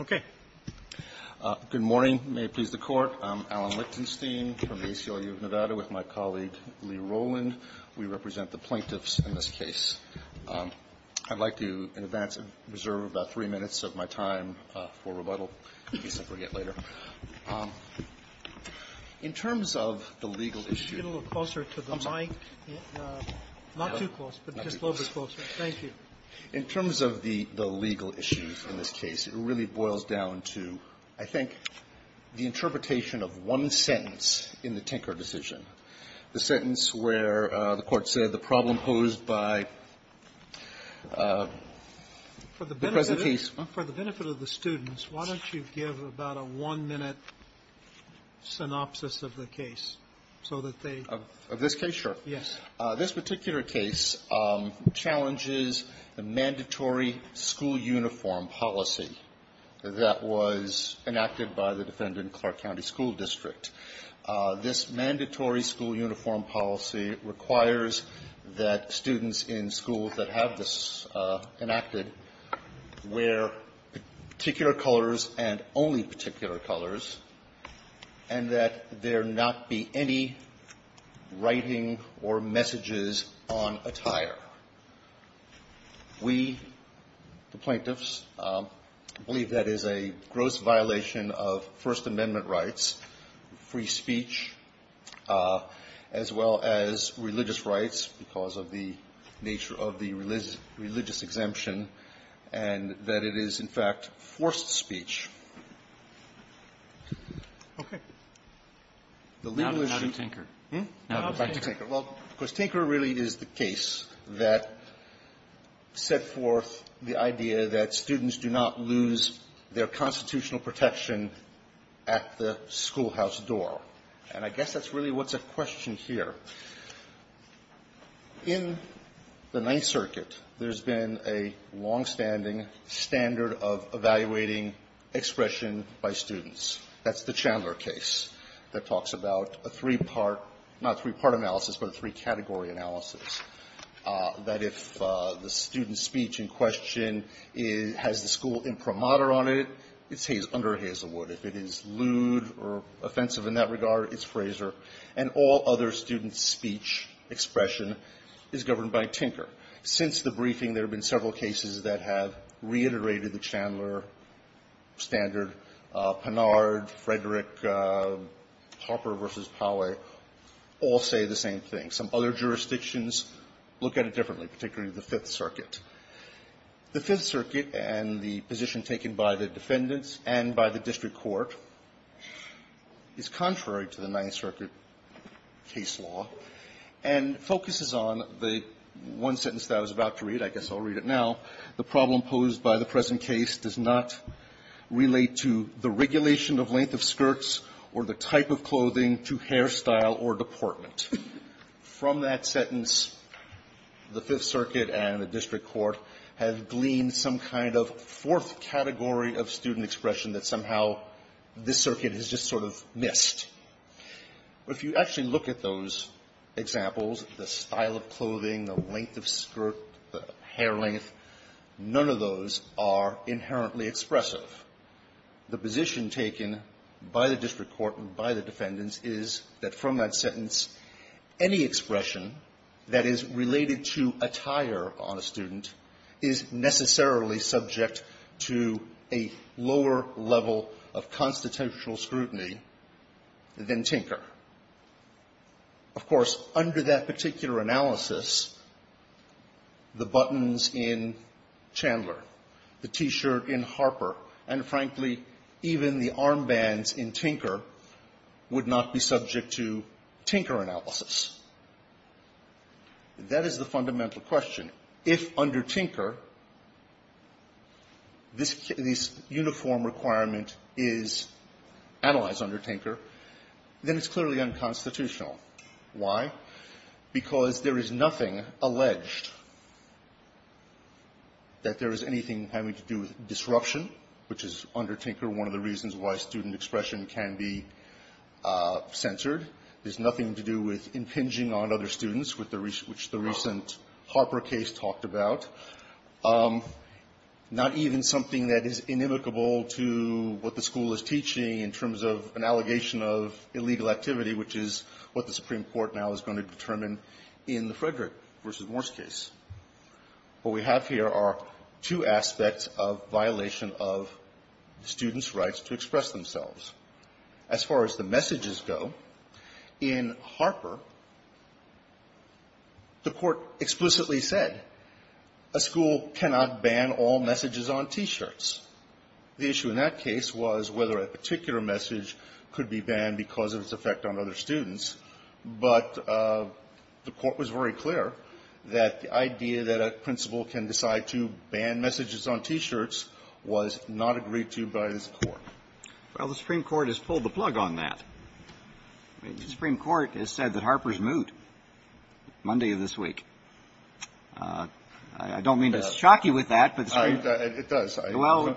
Okay. Good morning. May it please the Court. I'm Alan Lichtenstein from the ACLU of Nevada with my colleague Lee Roland. We represent the plaintiffs in this case. I'd like to, in advance, reserve about three minutes of my time for rebuttal, if you see what I mean. In terms of the legal issue, it really boils down to, I think, the interpretation of one sentence in the Tinker decision, the sentence where the Court said the problem posed by the present case. For the benefit of the students, why don't you give a brief about a one-minute synopsis of the case, so that they... Lichtenstein Of this case, sure. Roberts Yes. Lichtenstein This particular case challenges the mandatory school uniform policy that was enacted by the defendant in Clark County School District. This mandatory school uniform policy requires that students in schools that have this enacted wear particular colors and only particular colors, and that there not be any writing or messages on attire. We, the plaintiffs, believe that is a gross violation of First Amendment rights, free speech, as well as religious rights because of the nature of the religious exemption, and that it is, in fact, forced speech. Roberts Okay. Lichtenstein The legal issue... Roberts Now to Tinker. Lichtenstein Hmm? Roberts Now to Tinker. Lichtenstein Well, of course, Tinker really is the case that set forth the idea that students do not lose their constitutional protection at the schoolhouse door. And I guess that's really what's at question here. In the Ninth Circuit, there's been a longstanding standard of evaluating expression by students. That's the Chandler case that talks about a three-part, not three-part analysis, but a three-category analysis, that if the student's speech in question has the school word imprimatur on it, it's under Hazelwood. If it is lewd or offensive in that regard, it's Fraser. And all other students' speech expression is governed by Tinker. Since the briefing, there have been several cases that have reiterated the Chandler standard. Pinard, Frederick, Harper v. Poway all say the same thing. Some other jurisdictions look at it differently, particularly the Fifth Circuit. The Fifth Circuit and the position taken by the defendants and by the district court is contrary to the Ninth Circuit case law and focuses on the one sentence that I was about to read. I guess I'll read it now. The problem posed by the present case does not relate to the regulation of length of skirts or the type of clothing to hairstyle or deportment. From that sentence, the Fifth Circuit and the district court have gleaned some kind of fourth category of student expression that somehow this circuit has just sort of missed. If you actually look at those examples, the style of clothing, the length of skirt, the hair length, none of those are inherently expressive. The position taken by the district court and by the defendants is that from that standpoint, anything that is related to attire on a student is necessarily subject to a lower level of constitutional scrutiny than Tinker. Of course, under that particular analysis, the buttons in Chandler, the T-shirt in Harper, and frankly, even the armbands in Tinker would not be subject to Tinker analysis. That is the fundamental question. If under Tinker, this uniform requirement is analyzed under Tinker, then it's clearly unconstitutional. Why? Because there is nothing alleged that there is anything having to do with disruption, which is under Tinker one of the reasons why student expression can be censored. There's nothing to do with impinging on other students, which the recent Harper case talked about, not even something that is inimicable to what the school is teaching in terms of an allegation of illegal activity, which is what the Supreme Court now is going to determine in the Frederick v. Morse case. What we have here are two different cases. In Harper, the Court explicitly said a school cannot ban all messages on T-shirts. The issue in that case was whether a particular message could be banned because of its effect on other students, but the Court was very clear that the idea that a principal can decide to ban messages on T-shirts was not agreed to by this case. The Supreme Court has pulled the plug on that. The Supreme Court has said that Harper's moot Monday of this week. I don't mean to shock you with that, but the Supreme Court. It does. Well,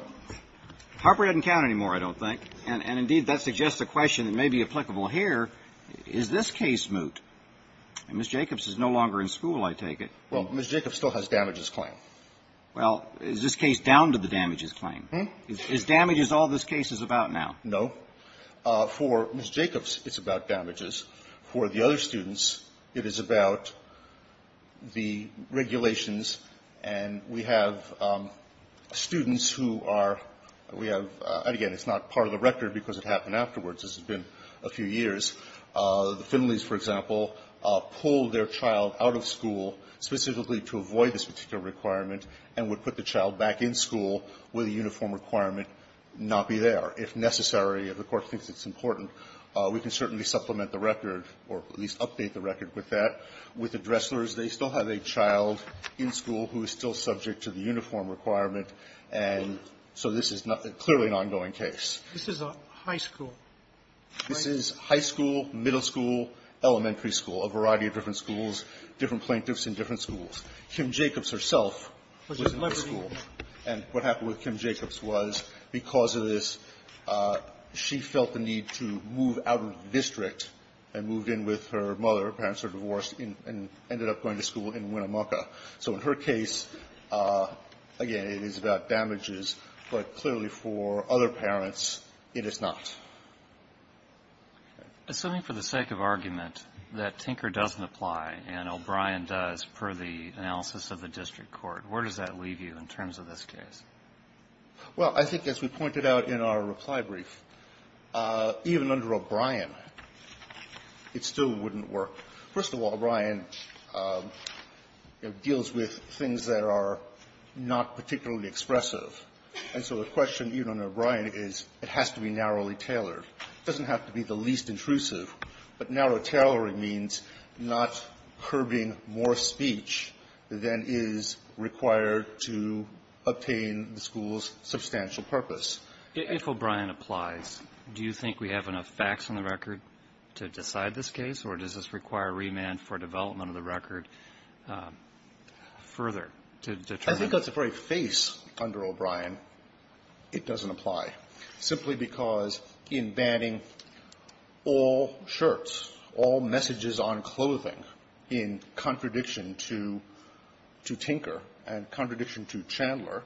Harper doesn't count anymore, I don't think. And, indeed, that suggests a question that may be applicable here. Is this case moot? And Ms. Jacobs is no longer in school, I take it. Well, Ms. Jacobs still has damages claim. Well, is this case down to the damages claim? Is damages all this case is about now? No. For Ms. Jacobs, it's about damages. For the other students, it is about the regulations. And we have students who are we have, again, it's not part of the record because it happened afterwards. This has been a few years. The Finleys, for example, pulled their child out of school specifically to avoid this particular requirement and would put the child back in school with a uniform requirement not be there. If necessary, if the Court thinks it's important, we can certainly supplement the record or at least update the record with that. With the Dresslers, they still have a child in school who is still subject to the uniform requirement, and so this is clearly an ongoing case. This is a high school, right? This is high school, middle school, elementary school, a variety of different schools, different plaintiffs in different schools. Kim Jacobs herself was in that school. And what happened with Kim Jacobs was, because of this, she felt the need to move out of the district and moved in with her mother. Her parents were divorced and ended up going to school in Winnemucca. So in her case, again, it is about damages. But clearly, for other parents, it is not. Kennedy. Assuming for the sake of argument that Tinker doesn't apply and O'Brien does per the analysis of the district court, where does that leave you in terms of this case? Well, I think as we pointed out in our reply brief, even under O'Brien, it still wouldn't work. First of all, O'Brien deals with things that are not particularly expressive. And so the question, even under O'Brien, is it has to be narrowly tailored. It doesn't have to be the least intrusive. But narrow tailoring means not curbing more speech than is required to obtain the school's substantial purpose. If O'Brien applies, do you think we have enough facts on the record to decide this case, or does this require remand for development of the record further to determine? I think that's the very face under O'Brien, it doesn't apply, simply because in banning all shirts, all messages on clothing in contradiction to Tinker and contradiction to Chandler,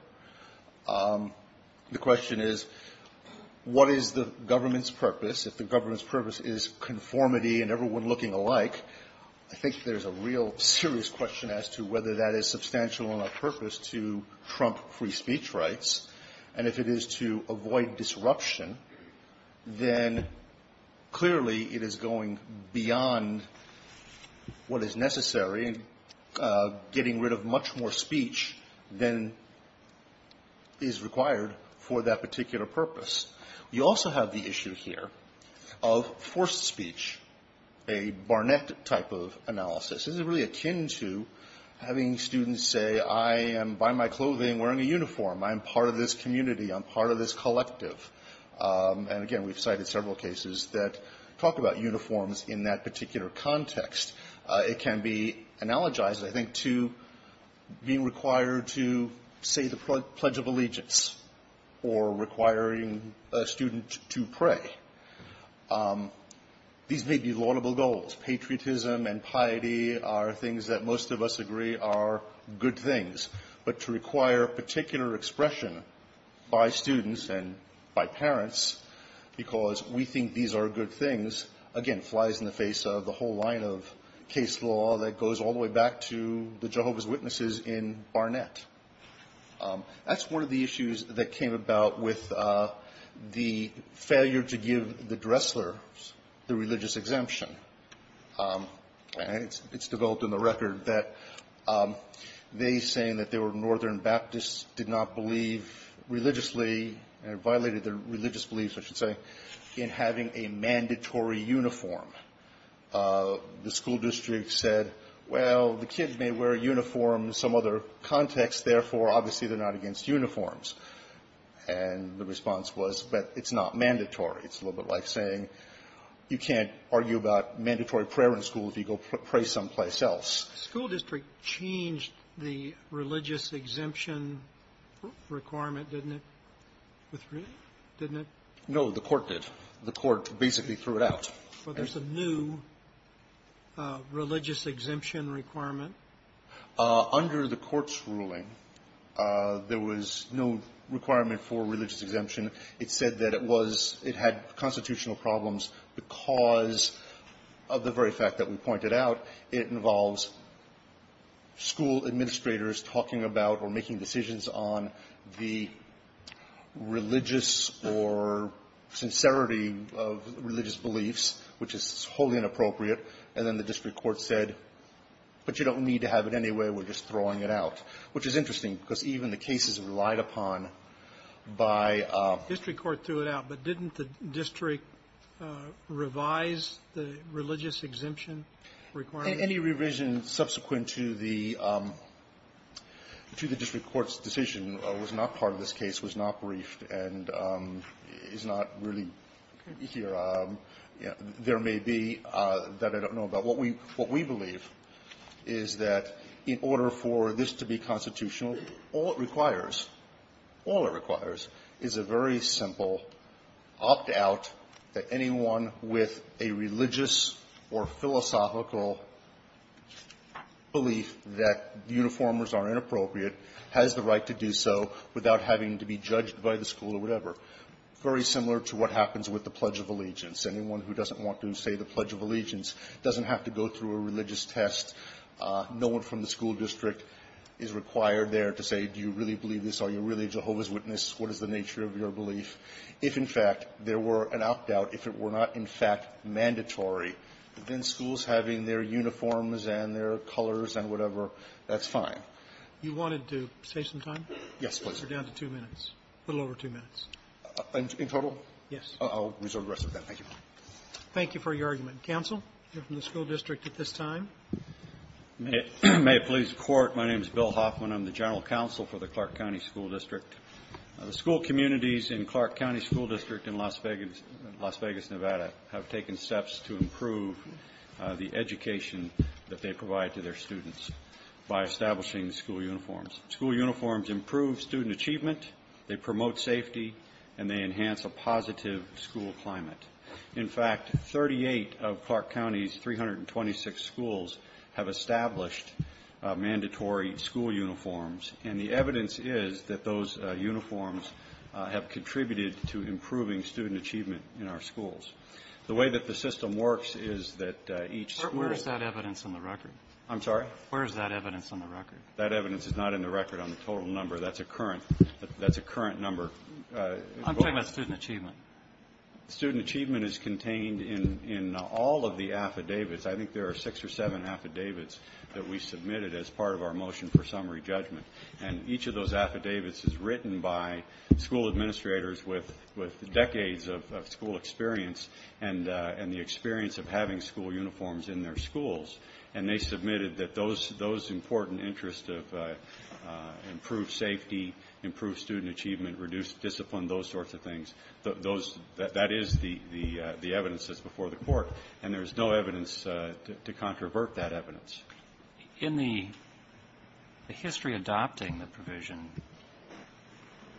the question is, what is the government's purpose? If the government's purpose is conformity and everyone looking alike, I think there's a real serious question as to whether that is substantial enough purpose to trump free speech rights. And if it is to avoid disruption, then clearly it is going beyond what is necessary, getting rid of much more speech than is required for that particular purpose. You also have the issue here of forced speech, a Barnett type of analysis. This is really akin to having students say, I am by my clothing wearing a uniform, I'm part of this community, I'm part of this collective. And again, we've cited several cases that talk about uniforms in that particular context. It can be analogized, I think, to being required to say the Pledge of Allegiance or requiring a student to pray. These may be laudable goals. Patriotism and piety are things that most of us agree are good things. But to require particular expression by students and by parents because we think these are good things, again, flies in the face of the whole line of case law that goes all the way back to the Jehovah's Witnesses in Barnett. That's one of the issues that came about with the failure to give the Dresslers the religious exemption. And it's developed in the record that they saying that they were Northern Baptists did not believe religiously, and violated their religious beliefs, I should say, in having a mandatory uniform. The school district said, well, the kids may wear uniforms in some other context. Therefore, obviously, they're not against uniforms. And the response was, but it's not mandatory. It's a little bit like saying you can't argue about mandatory prayer in school if you go pray someplace else. Sotomayor School district changed the religious exemption requirement, didn't it? Didn't it? No. The court did. The court basically threw it out. So there's a new religious exemption requirement? Under the court's ruling, there was no requirement for religious exemption. It said that it was – it had constitutional problems because of the very fact that we pointed out it involves school administrators talking about or making decisions on the religious or sincerity of religious beliefs, which is wholly inappropriate. And then the district court said, but you don't need to have it anyway. We're just throwing it out, which is interesting because even the cases relied upon by the district court threw it out. But didn't the district revise the religious exemption requirement? Any revision subsequent to the district court's decision was not part of this case, was not briefed, and is not really here. There may be that I don't know about. What we believe is that in order for this to be constitutional, all it requires is a very simple opt-out that anyone with a religious or philosophical belief that uniformers are inappropriate has the right to do so without having to be judged by the school or whatever, very similar to what happens with the Pledge of Allegiance. Anyone who doesn't want to say the Pledge of Allegiance doesn't have to go through a religious test, no one from the school district is required there to say, do you really believe this? Are you really a Jehovah's Witness? What is the nature of your belief? If, in fact, there were an opt-out, if it were not, in fact, mandatory, then schools having their uniforms and their colors and whatever, that's fine. Roberts. You wanted to save some time? Horne. Yes, please. Roberts. You're down to two minutes, a little over two minutes. Horne. In total? Roberts. Yes. Horne. I'll reserve the rest of that. Thank you. Roberts. Thank you for your argument. Counsel, you're from the school district at this time. Hoffman. May it please the Court, my name is Bill Hoffman. I'm the general counsel for the Clark County School District. The school communities in Clark County School District in Las Vegas, Nevada, have taken steps to improve the education that they provide to their students by establishing school uniforms. School uniforms improve student achievement, they promote safety, and they enhance a positive school climate. In fact, 38 of Clark County's 326 schools have established mandatory school uniforms, and the evidence is that those uniforms have contributed to improving student achievement in our schools. The way that the system works is that each school ---- Kennedy. Where is that evidence on the record? Horne. I'm sorry? Kennedy. Where is that evidence on the record? That's a current number. Horne. I'm talking about student achievement. Kennedy. Student achievement is contained in all of the affidavits. I think there are six or seven affidavits that we submitted as part of our motion for summary judgment, and each of those affidavits is written by school administrators with decades of school experience and the experience of having school uniforms in their schools, and they submitted that those important interests of improved safety, improved student achievement, reduced discipline, those sorts of things, those ---- that is the evidence that's before the Court, and there is no evidence to controvert that evidence. Kennedy. In the history adopting the provision,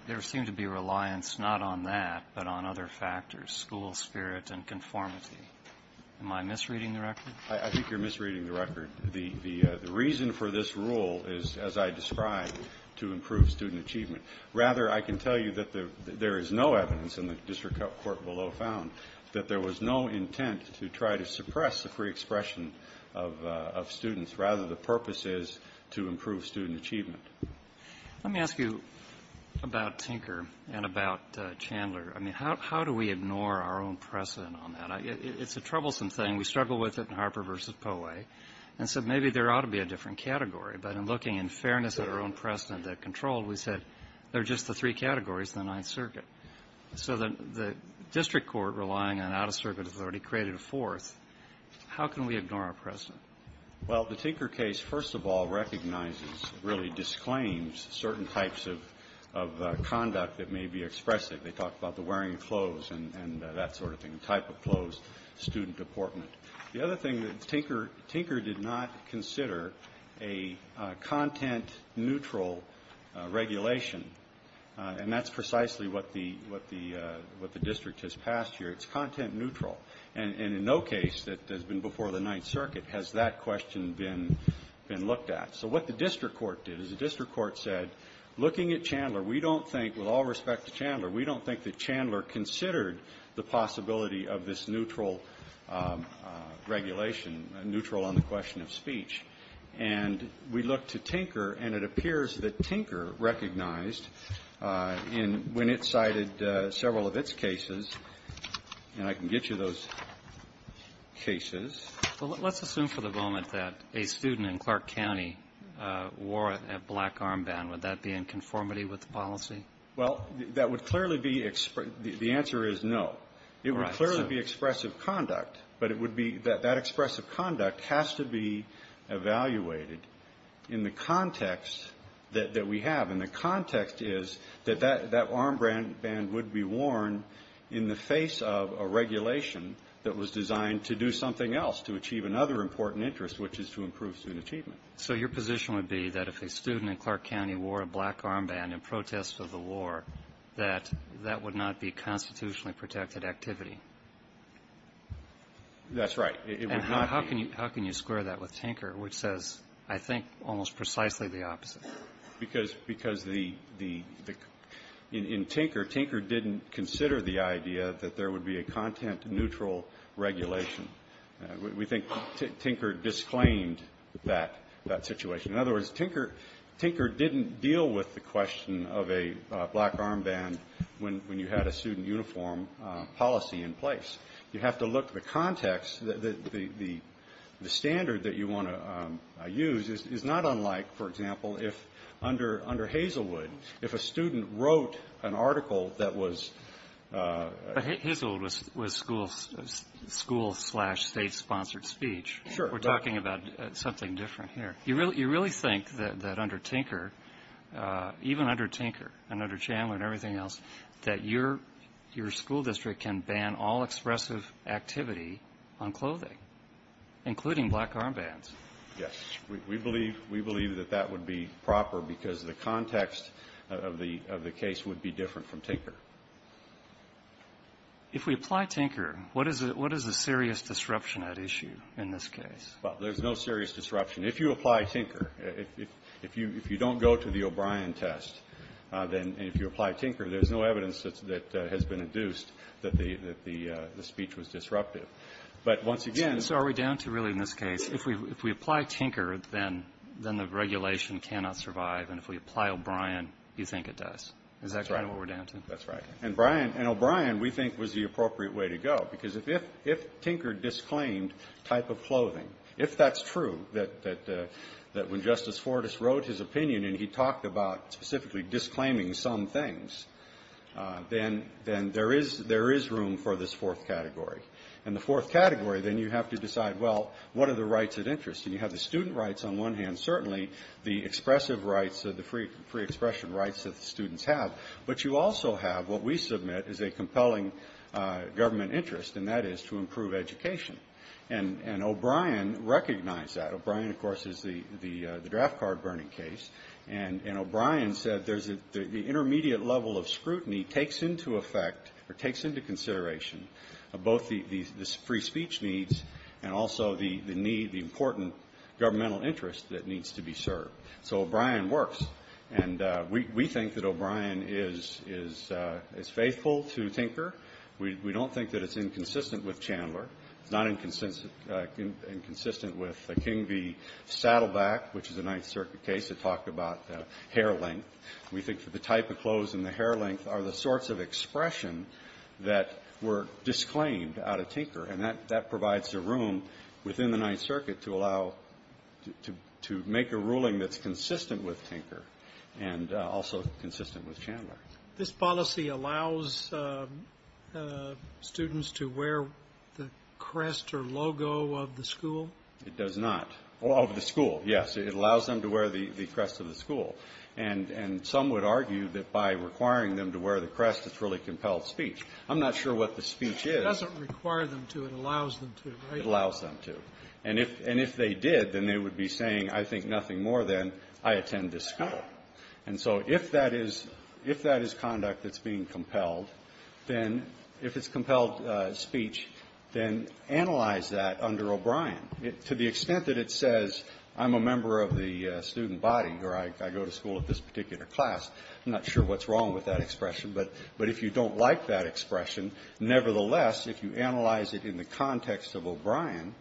there seemed to be reliance not on that but on other factors, school spirit and conformity. Am I misreading the record? The reason for this rule is, as I described, to improve student achievement. Rather, I can tell you that there is no evidence, and the district court below found, that there was no intent to try to suppress the free expression of students. Rather, the purpose is to improve student achievement. Let me ask you about Tinker and about Chandler. I mean, how do we ignore our own precedent on that? It's a troublesome thing. We struggle with it in Harper v. Poehle. And so maybe there ought to be a different category, but in looking in fairness at our own precedent that controlled, we said there are just the three categories in the Ninth Circuit. So the district court, relying on out-of-circuit authority, created a fourth. How can we ignore our precedent? Well, the Tinker case, first of all, recognizes, really disclaims certain types of conduct that may be expressive. They talk about the wearing of clothes and that sort of thing, the type of clothes, student deportment. The other thing is Tinker did not consider a content-neutral regulation. And that's precisely what the district has passed here. It's content-neutral. And in no case that has been before the Ninth Circuit has that question been looked at. So what the district court did is the district court said, looking at Chandler, we don't think, with all respect to Chandler, we don't think that Chandler considered the possibility of this neutral regulation, neutral on the question of speech. And we looked to Tinker, and it appears that Tinker recognized in when it cited several of its cases, and I can get you those cases. Well, let's assume for the moment that a student in Clark County wore a black armband. Would that be in conformity with the policy? Well, that would clearly be the answer is no. It would clearly be expressive conduct, but it would be that that expressive conduct has to be evaluated in the context that we have. And the context is that that armband would be worn in the face of a regulation that was designed to do something else, to achieve another important interest, which is to improve student achievement. So your position would be that if a student in Clark County wore a black armband in protest of the war, that that would not be constitutionally protected activity? That's right. It would not be. And how can you square that with Tinker, which says, I think, almost precisely the opposite? Because the – in Tinker, Tinker didn't consider the idea that there would be a content-neutral regulation. We think Tinker disclaimed that situation. In other words, Tinker didn't deal with the question of a black armband when you had a student uniform policy in place. You have to look at the context. The standard that you want to use is not unlike, for example, if under Hazelwood, if a student wrote an article that was – school-slash-state-sponsored speech. Sure. We're talking about something different here. You really think that under Tinker, even under Tinker and under Chandler and everything else, that your school district can ban all expressive activity on clothing, including black armbands? Yes. We believe that that would be proper because the context of the case would be different from Tinker. If we apply Tinker, what is the serious disruption at issue in this case? Well, there's no serious disruption. If you apply Tinker, if you don't go to the O'Brien test, then if you apply Tinker, there's no evidence that has been induced that the speech was disruptive. But once again – So are we down to really, in this case, if we apply Tinker, then the regulation cannot survive, and if we apply O'Brien, you think it does? Is that kind of what we're down to? That's right. And O'Brien, we think, was the appropriate way to go because if Tinker disclaimed type of clothing, if that's true, that when Justice Fortas wrote his opinion and he talked about specifically disclaiming some things, then there is room for this fourth category. And the fourth category, then you have to decide, well, what are the rights of interest? And you have the student rights on one hand, certainly, the expressive rights, the free expression rights that the students have. But you also have what we submit is a compelling government interest, and that is to improve education. And O'Brien recognized that. O'Brien, of course, is the draft card burning case. And O'Brien said the intermediate level of scrutiny takes into effect or takes into consideration both the free speech needs and also the need, the important governmental interest that needs to be served. So O'Brien works. And we think that O'Brien is faithful to Tinker. We don't think that it's inconsistent with Chandler. It's not inconsistent with King v. Saddleback, which is a Ninth Circuit case. It talked about hair length. We think that the type of clothes and the hair length are the sorts of expression that were disclaimed out of Tinker. And that provides a room within the Ninth Circuit to allow to make a ruling that's consistent with Tinker and also consistent with Chandler. This policy allows students to wear the crest or logo of the school? It does not. Of the school, yes. It allows them to wear the crest of the school. And some would argue that by requiring them to wear the crest, it's really compelled speech. I'm not sure what the speech is. It doesn't require them to. It allows them to, right? It allows them to. And if they did, then they would be saying, I think nothing more than, I attend this school. And so if that is conduct that's being compelled, then if it's compelled speech, then analyze that under O'Brien. To the extent that it says, I'm a member of the student body, or I go to school at this particular class, I'm not sure what's wrong with that expression. But if you don't like that expression, nevertheless, if you analyze it in the context of O'Brien,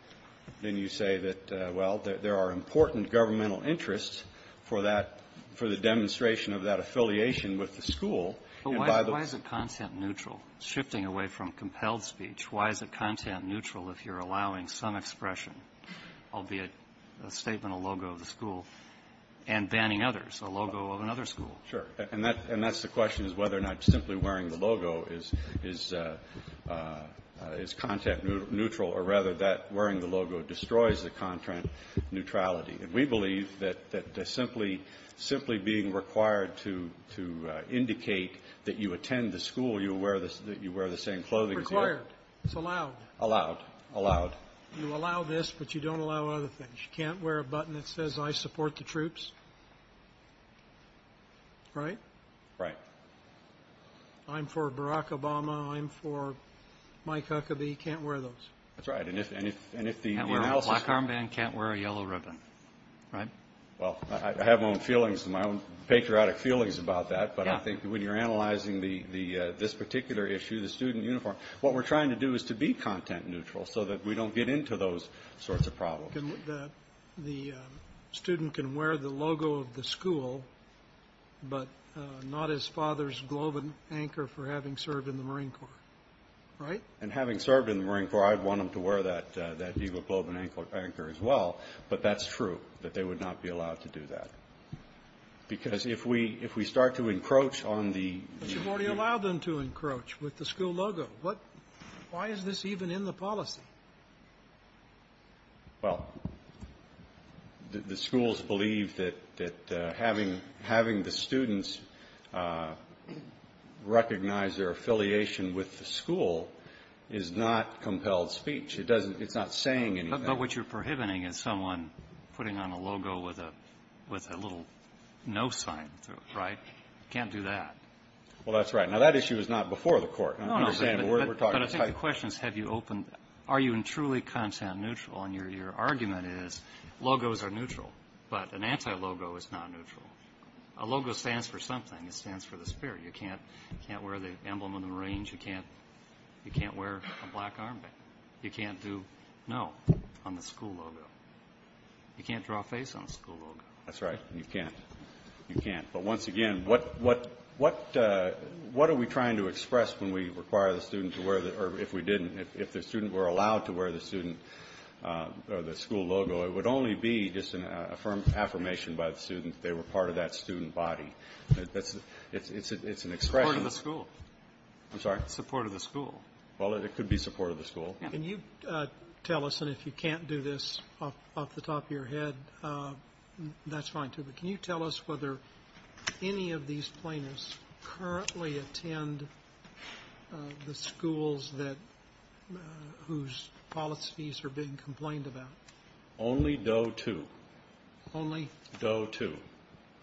then you say that, well, there are important governmental interests for that, for the demonstration of that affiliation with the school. But why is it content-neutral? Shifting away from compelled speech, why is it content-neutral if you're allowing some expression, albeit a statement or logo of the school, and banning others, a logo of another school? Sure. And that's the question is whether or not simply wearing the logo is content-neutral or, rather, that wearing the logo destroys the content neutrality. And we believe that simply being required to indicate that you attend the school, you wear the same clothing as the other. Required. It's allowed. Allowed. Allowed. You allow this, but you don't allow other things. You can't wear a button that says, I support the troops. Right? Right. I'm for Barack Obama. I'm for Mike Huckabee. Can't wear those. That's right. Black armband can't wear a yellow ribbon. Right? Well, I have my own feelings, my own patriotic feelings about that. But I think when you're analyzing this particular issue, the student uniform, what we're trying to do is to be content-neutral so that we don't get into those sorts of problems. The student can wear the logo of the school, but not his father's globe and anchor for having served in the Marine Corps. Right? And having served in the Marine Corps, I'd want them to wear that Viva Globe and Anchor as well. But that's true, that they would not be allowed to do that. Because if we start to encroach on the – But you've already allowed them to encroach with the school logo. Why is this even in the policy? Well, the schools believe that having the students recognize their affiliation with the school is not compelled speech. It doesn't – it's not saying anything. But what you're prohibiting is someone putting on a logo with a little no sign to it. Right? Can't do that. Now, that issue is not before the Court. No, no, but I think the question is have you opened – are you truly content-neutral? And your argument is logos are neutral, but an anti-logo is not neutral. A logo stands for something. It stands for the spirit. You can't wear the emblem of the Marines. You can't wear a black armband. You can't do no on the school logo. You can't draw a face on the school logo. That's right. You can't. You can't. But once again, what are we trying to express when we require the students to wear – or if we didn't, if the student were allowed to wear the student or the school logo, it would only be just an affirmation by the student that they were part of that student body. It's an expression. Support of the school. I'm sorry? Support of the school. Well, it could be support of the school. Can you tell us – and if you can't do this off the top of your head, that's fine, too. But can you tell us whether any of these plaintiffs currently attend the schools that – whose policies are being complained about? Only Doe 2. Only? Doe 2.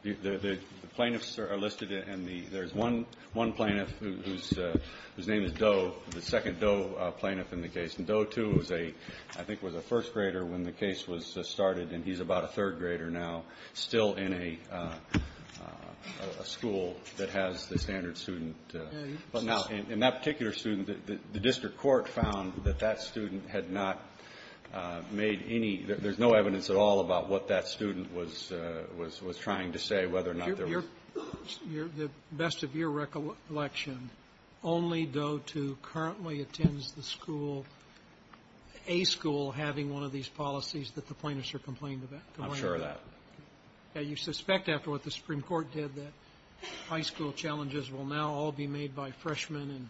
The plaintiffs are listed, and there's one plaintiff whose name is Doe, the second Doe plaintiff in the case. And Doe 2 was a – I think was a first grader when the case was started, and he's about a third grader now, still in a school that has the standard student. But now, in that particular student, the district court found that that student had not made any – there's no evidence at all about what that student was trying to say, whether or not there was – The best of your recollection, only Doe 2 currently attends the school – a school having one of these policies that the plaintiffs are complained about. I'm sure of that. Now, you suspect, after what the Supreme Court did, that high school challenges will now all be made by freshmen and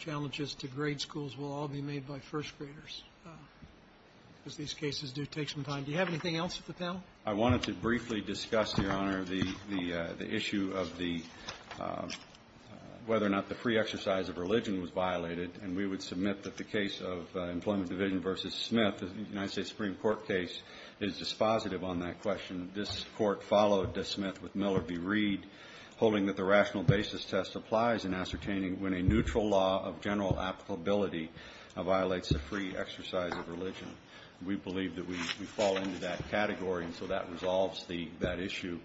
challenges to grade schools will all be made by first graders, as these cases do take some time. Do you have anything else at the panel? I wanted to briefly discuss, Your Honor, the issue of the – whether or not the free exercise of religion was violated, and we would submit that the case of Employment Division v. Smith, the United States Supreme Court case, is dispositive on that question. This Court followed Smith with Miller v. Reed, holding that the rational basis test applies in ascertaining when a neutral law of general applicability violates the free exercise of religion. We believe that we fall into that category, and so that resolves that issue.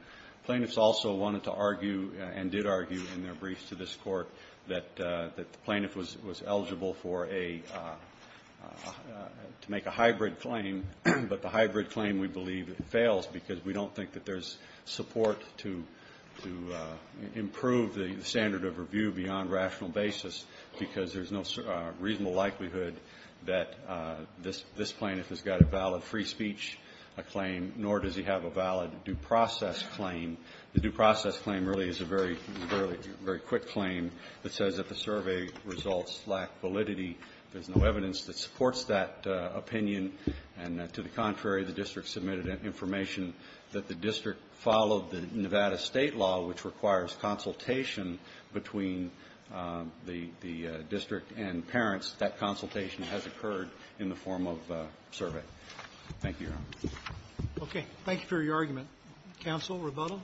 Plaintiffs also wanted to argue, and did argue in their briefs to this Court, that the plaintiff was eligible for a – to make a hybrid claim, but the hybrid claim, we believe, fails because we don't think that there's support to improve the standard of review beyond rational basis because there's no reasonable likelihood that this plaintiff has got a valid free speech claim, nor does he have a valid due process claim. The due process claim really is a very, very quick claim that says that the survey results lack validity. There's no evidence that supports that opinion. And to the contrary, the district submitted information that the district followed the Nevada State law, which requires consultation between the district and parents. That consultation has occurred in the form of a survey. Thank you, Your Honor. Roberts. Thank you for your argument. Counsel, rebuttal?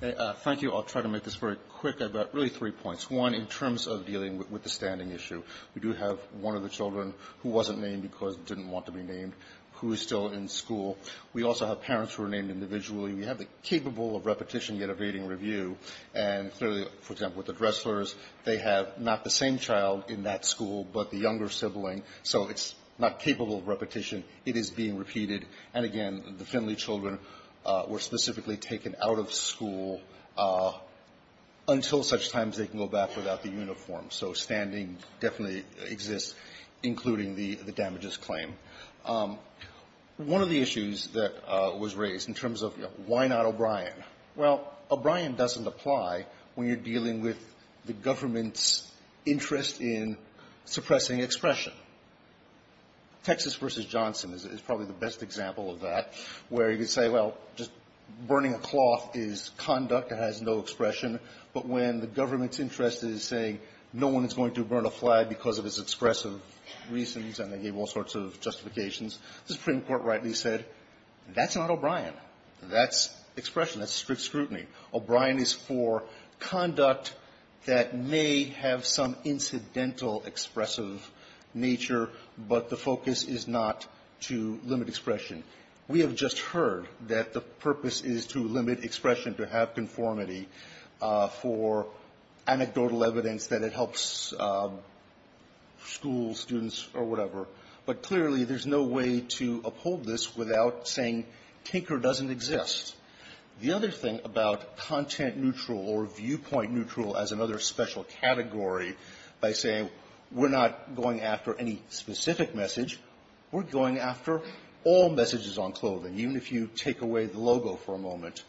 Thank you. I'll try to make this very quick. I've got really three points. One, in terms of dealing with the standing issue, we do have one of the children who wasn't named because it didn't want to be named, who is still in school. We also have parents who are named individually. We have the capable of repetition, yet evading review. And clearly, for example, with the Dresslers, they have not the same child in that it is being repeated. And again, the Finley children were specifically taken out of school until such times they can go back without the uniform. So standing definitely exists, including the damages claim. One of the issues that was raised in terms of, you know, why not O'Brien? Well, O'Brien doesn't apply when you're dealing with the government's interest in suppressing expression. Texas v. Johnson is probably the best example of that, where you could say, well, just burning a cloth is conduct. It has no expression. But when the government's interest is saying no one is going to burn a flag because of its expressive reasons, and they gave all sorts of justifications, the Supreme Court rightly said, that's not O'Brien. That's expression. That's strict scrutiny. O'Brien is for conduct that may have some incidental expressive nature, but the focus is not to limit expression. We have just heard that the purpose is to limit expression, to have conformity for anecdotal evidence that it helps school students or whatever. But clearly, there's no way to uphold this without saying Tinker doesn't exist. The other thing about content neutral or viewpoint neutral as another special category by saying we're not going after any specific message, we're going after all messages on clothing, even if you take away the logo for a moment.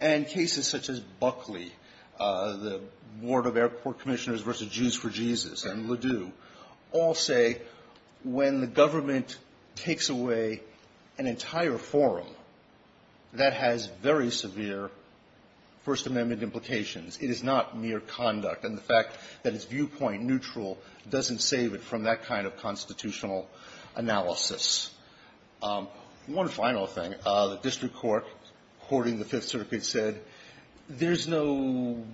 And cases such as Buckley, the Board of Airport Commissioners v. Jews for Jesus and Ladue all say when the government takes away an entire forum, that has very severe First Amendment implications. It is not mere conduct. And the fact that it's viewpoint neutral doesn't save it from that kind of constitutional analysis. One final thing, the district court, according to the Fifth Circuit, said there's no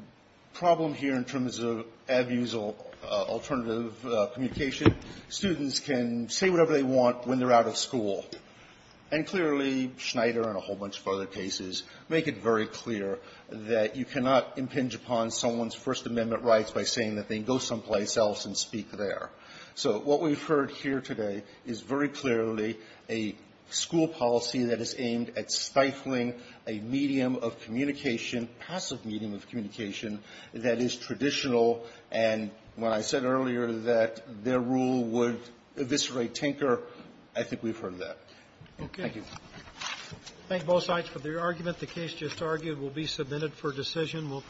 problem here in terms of abusal alternative communication. Students can say whatever they want when they're out of school. And clearly, Schneider and a whole bunch of other cases make it very clear that you cannot impinge upon someone's First Amendment rights by saying that they can go someplace else and speak there. So what we've heard here today is very clearly a school policy that is aimed at stifling a medium of communication, passive medium of communication, that is traditional. And when I said earlier that their rule would eviscerate Tinker, I think we've heard that. Thank you. Roberts. Thank both sides for their argument. The case just argued will be submitted for decision.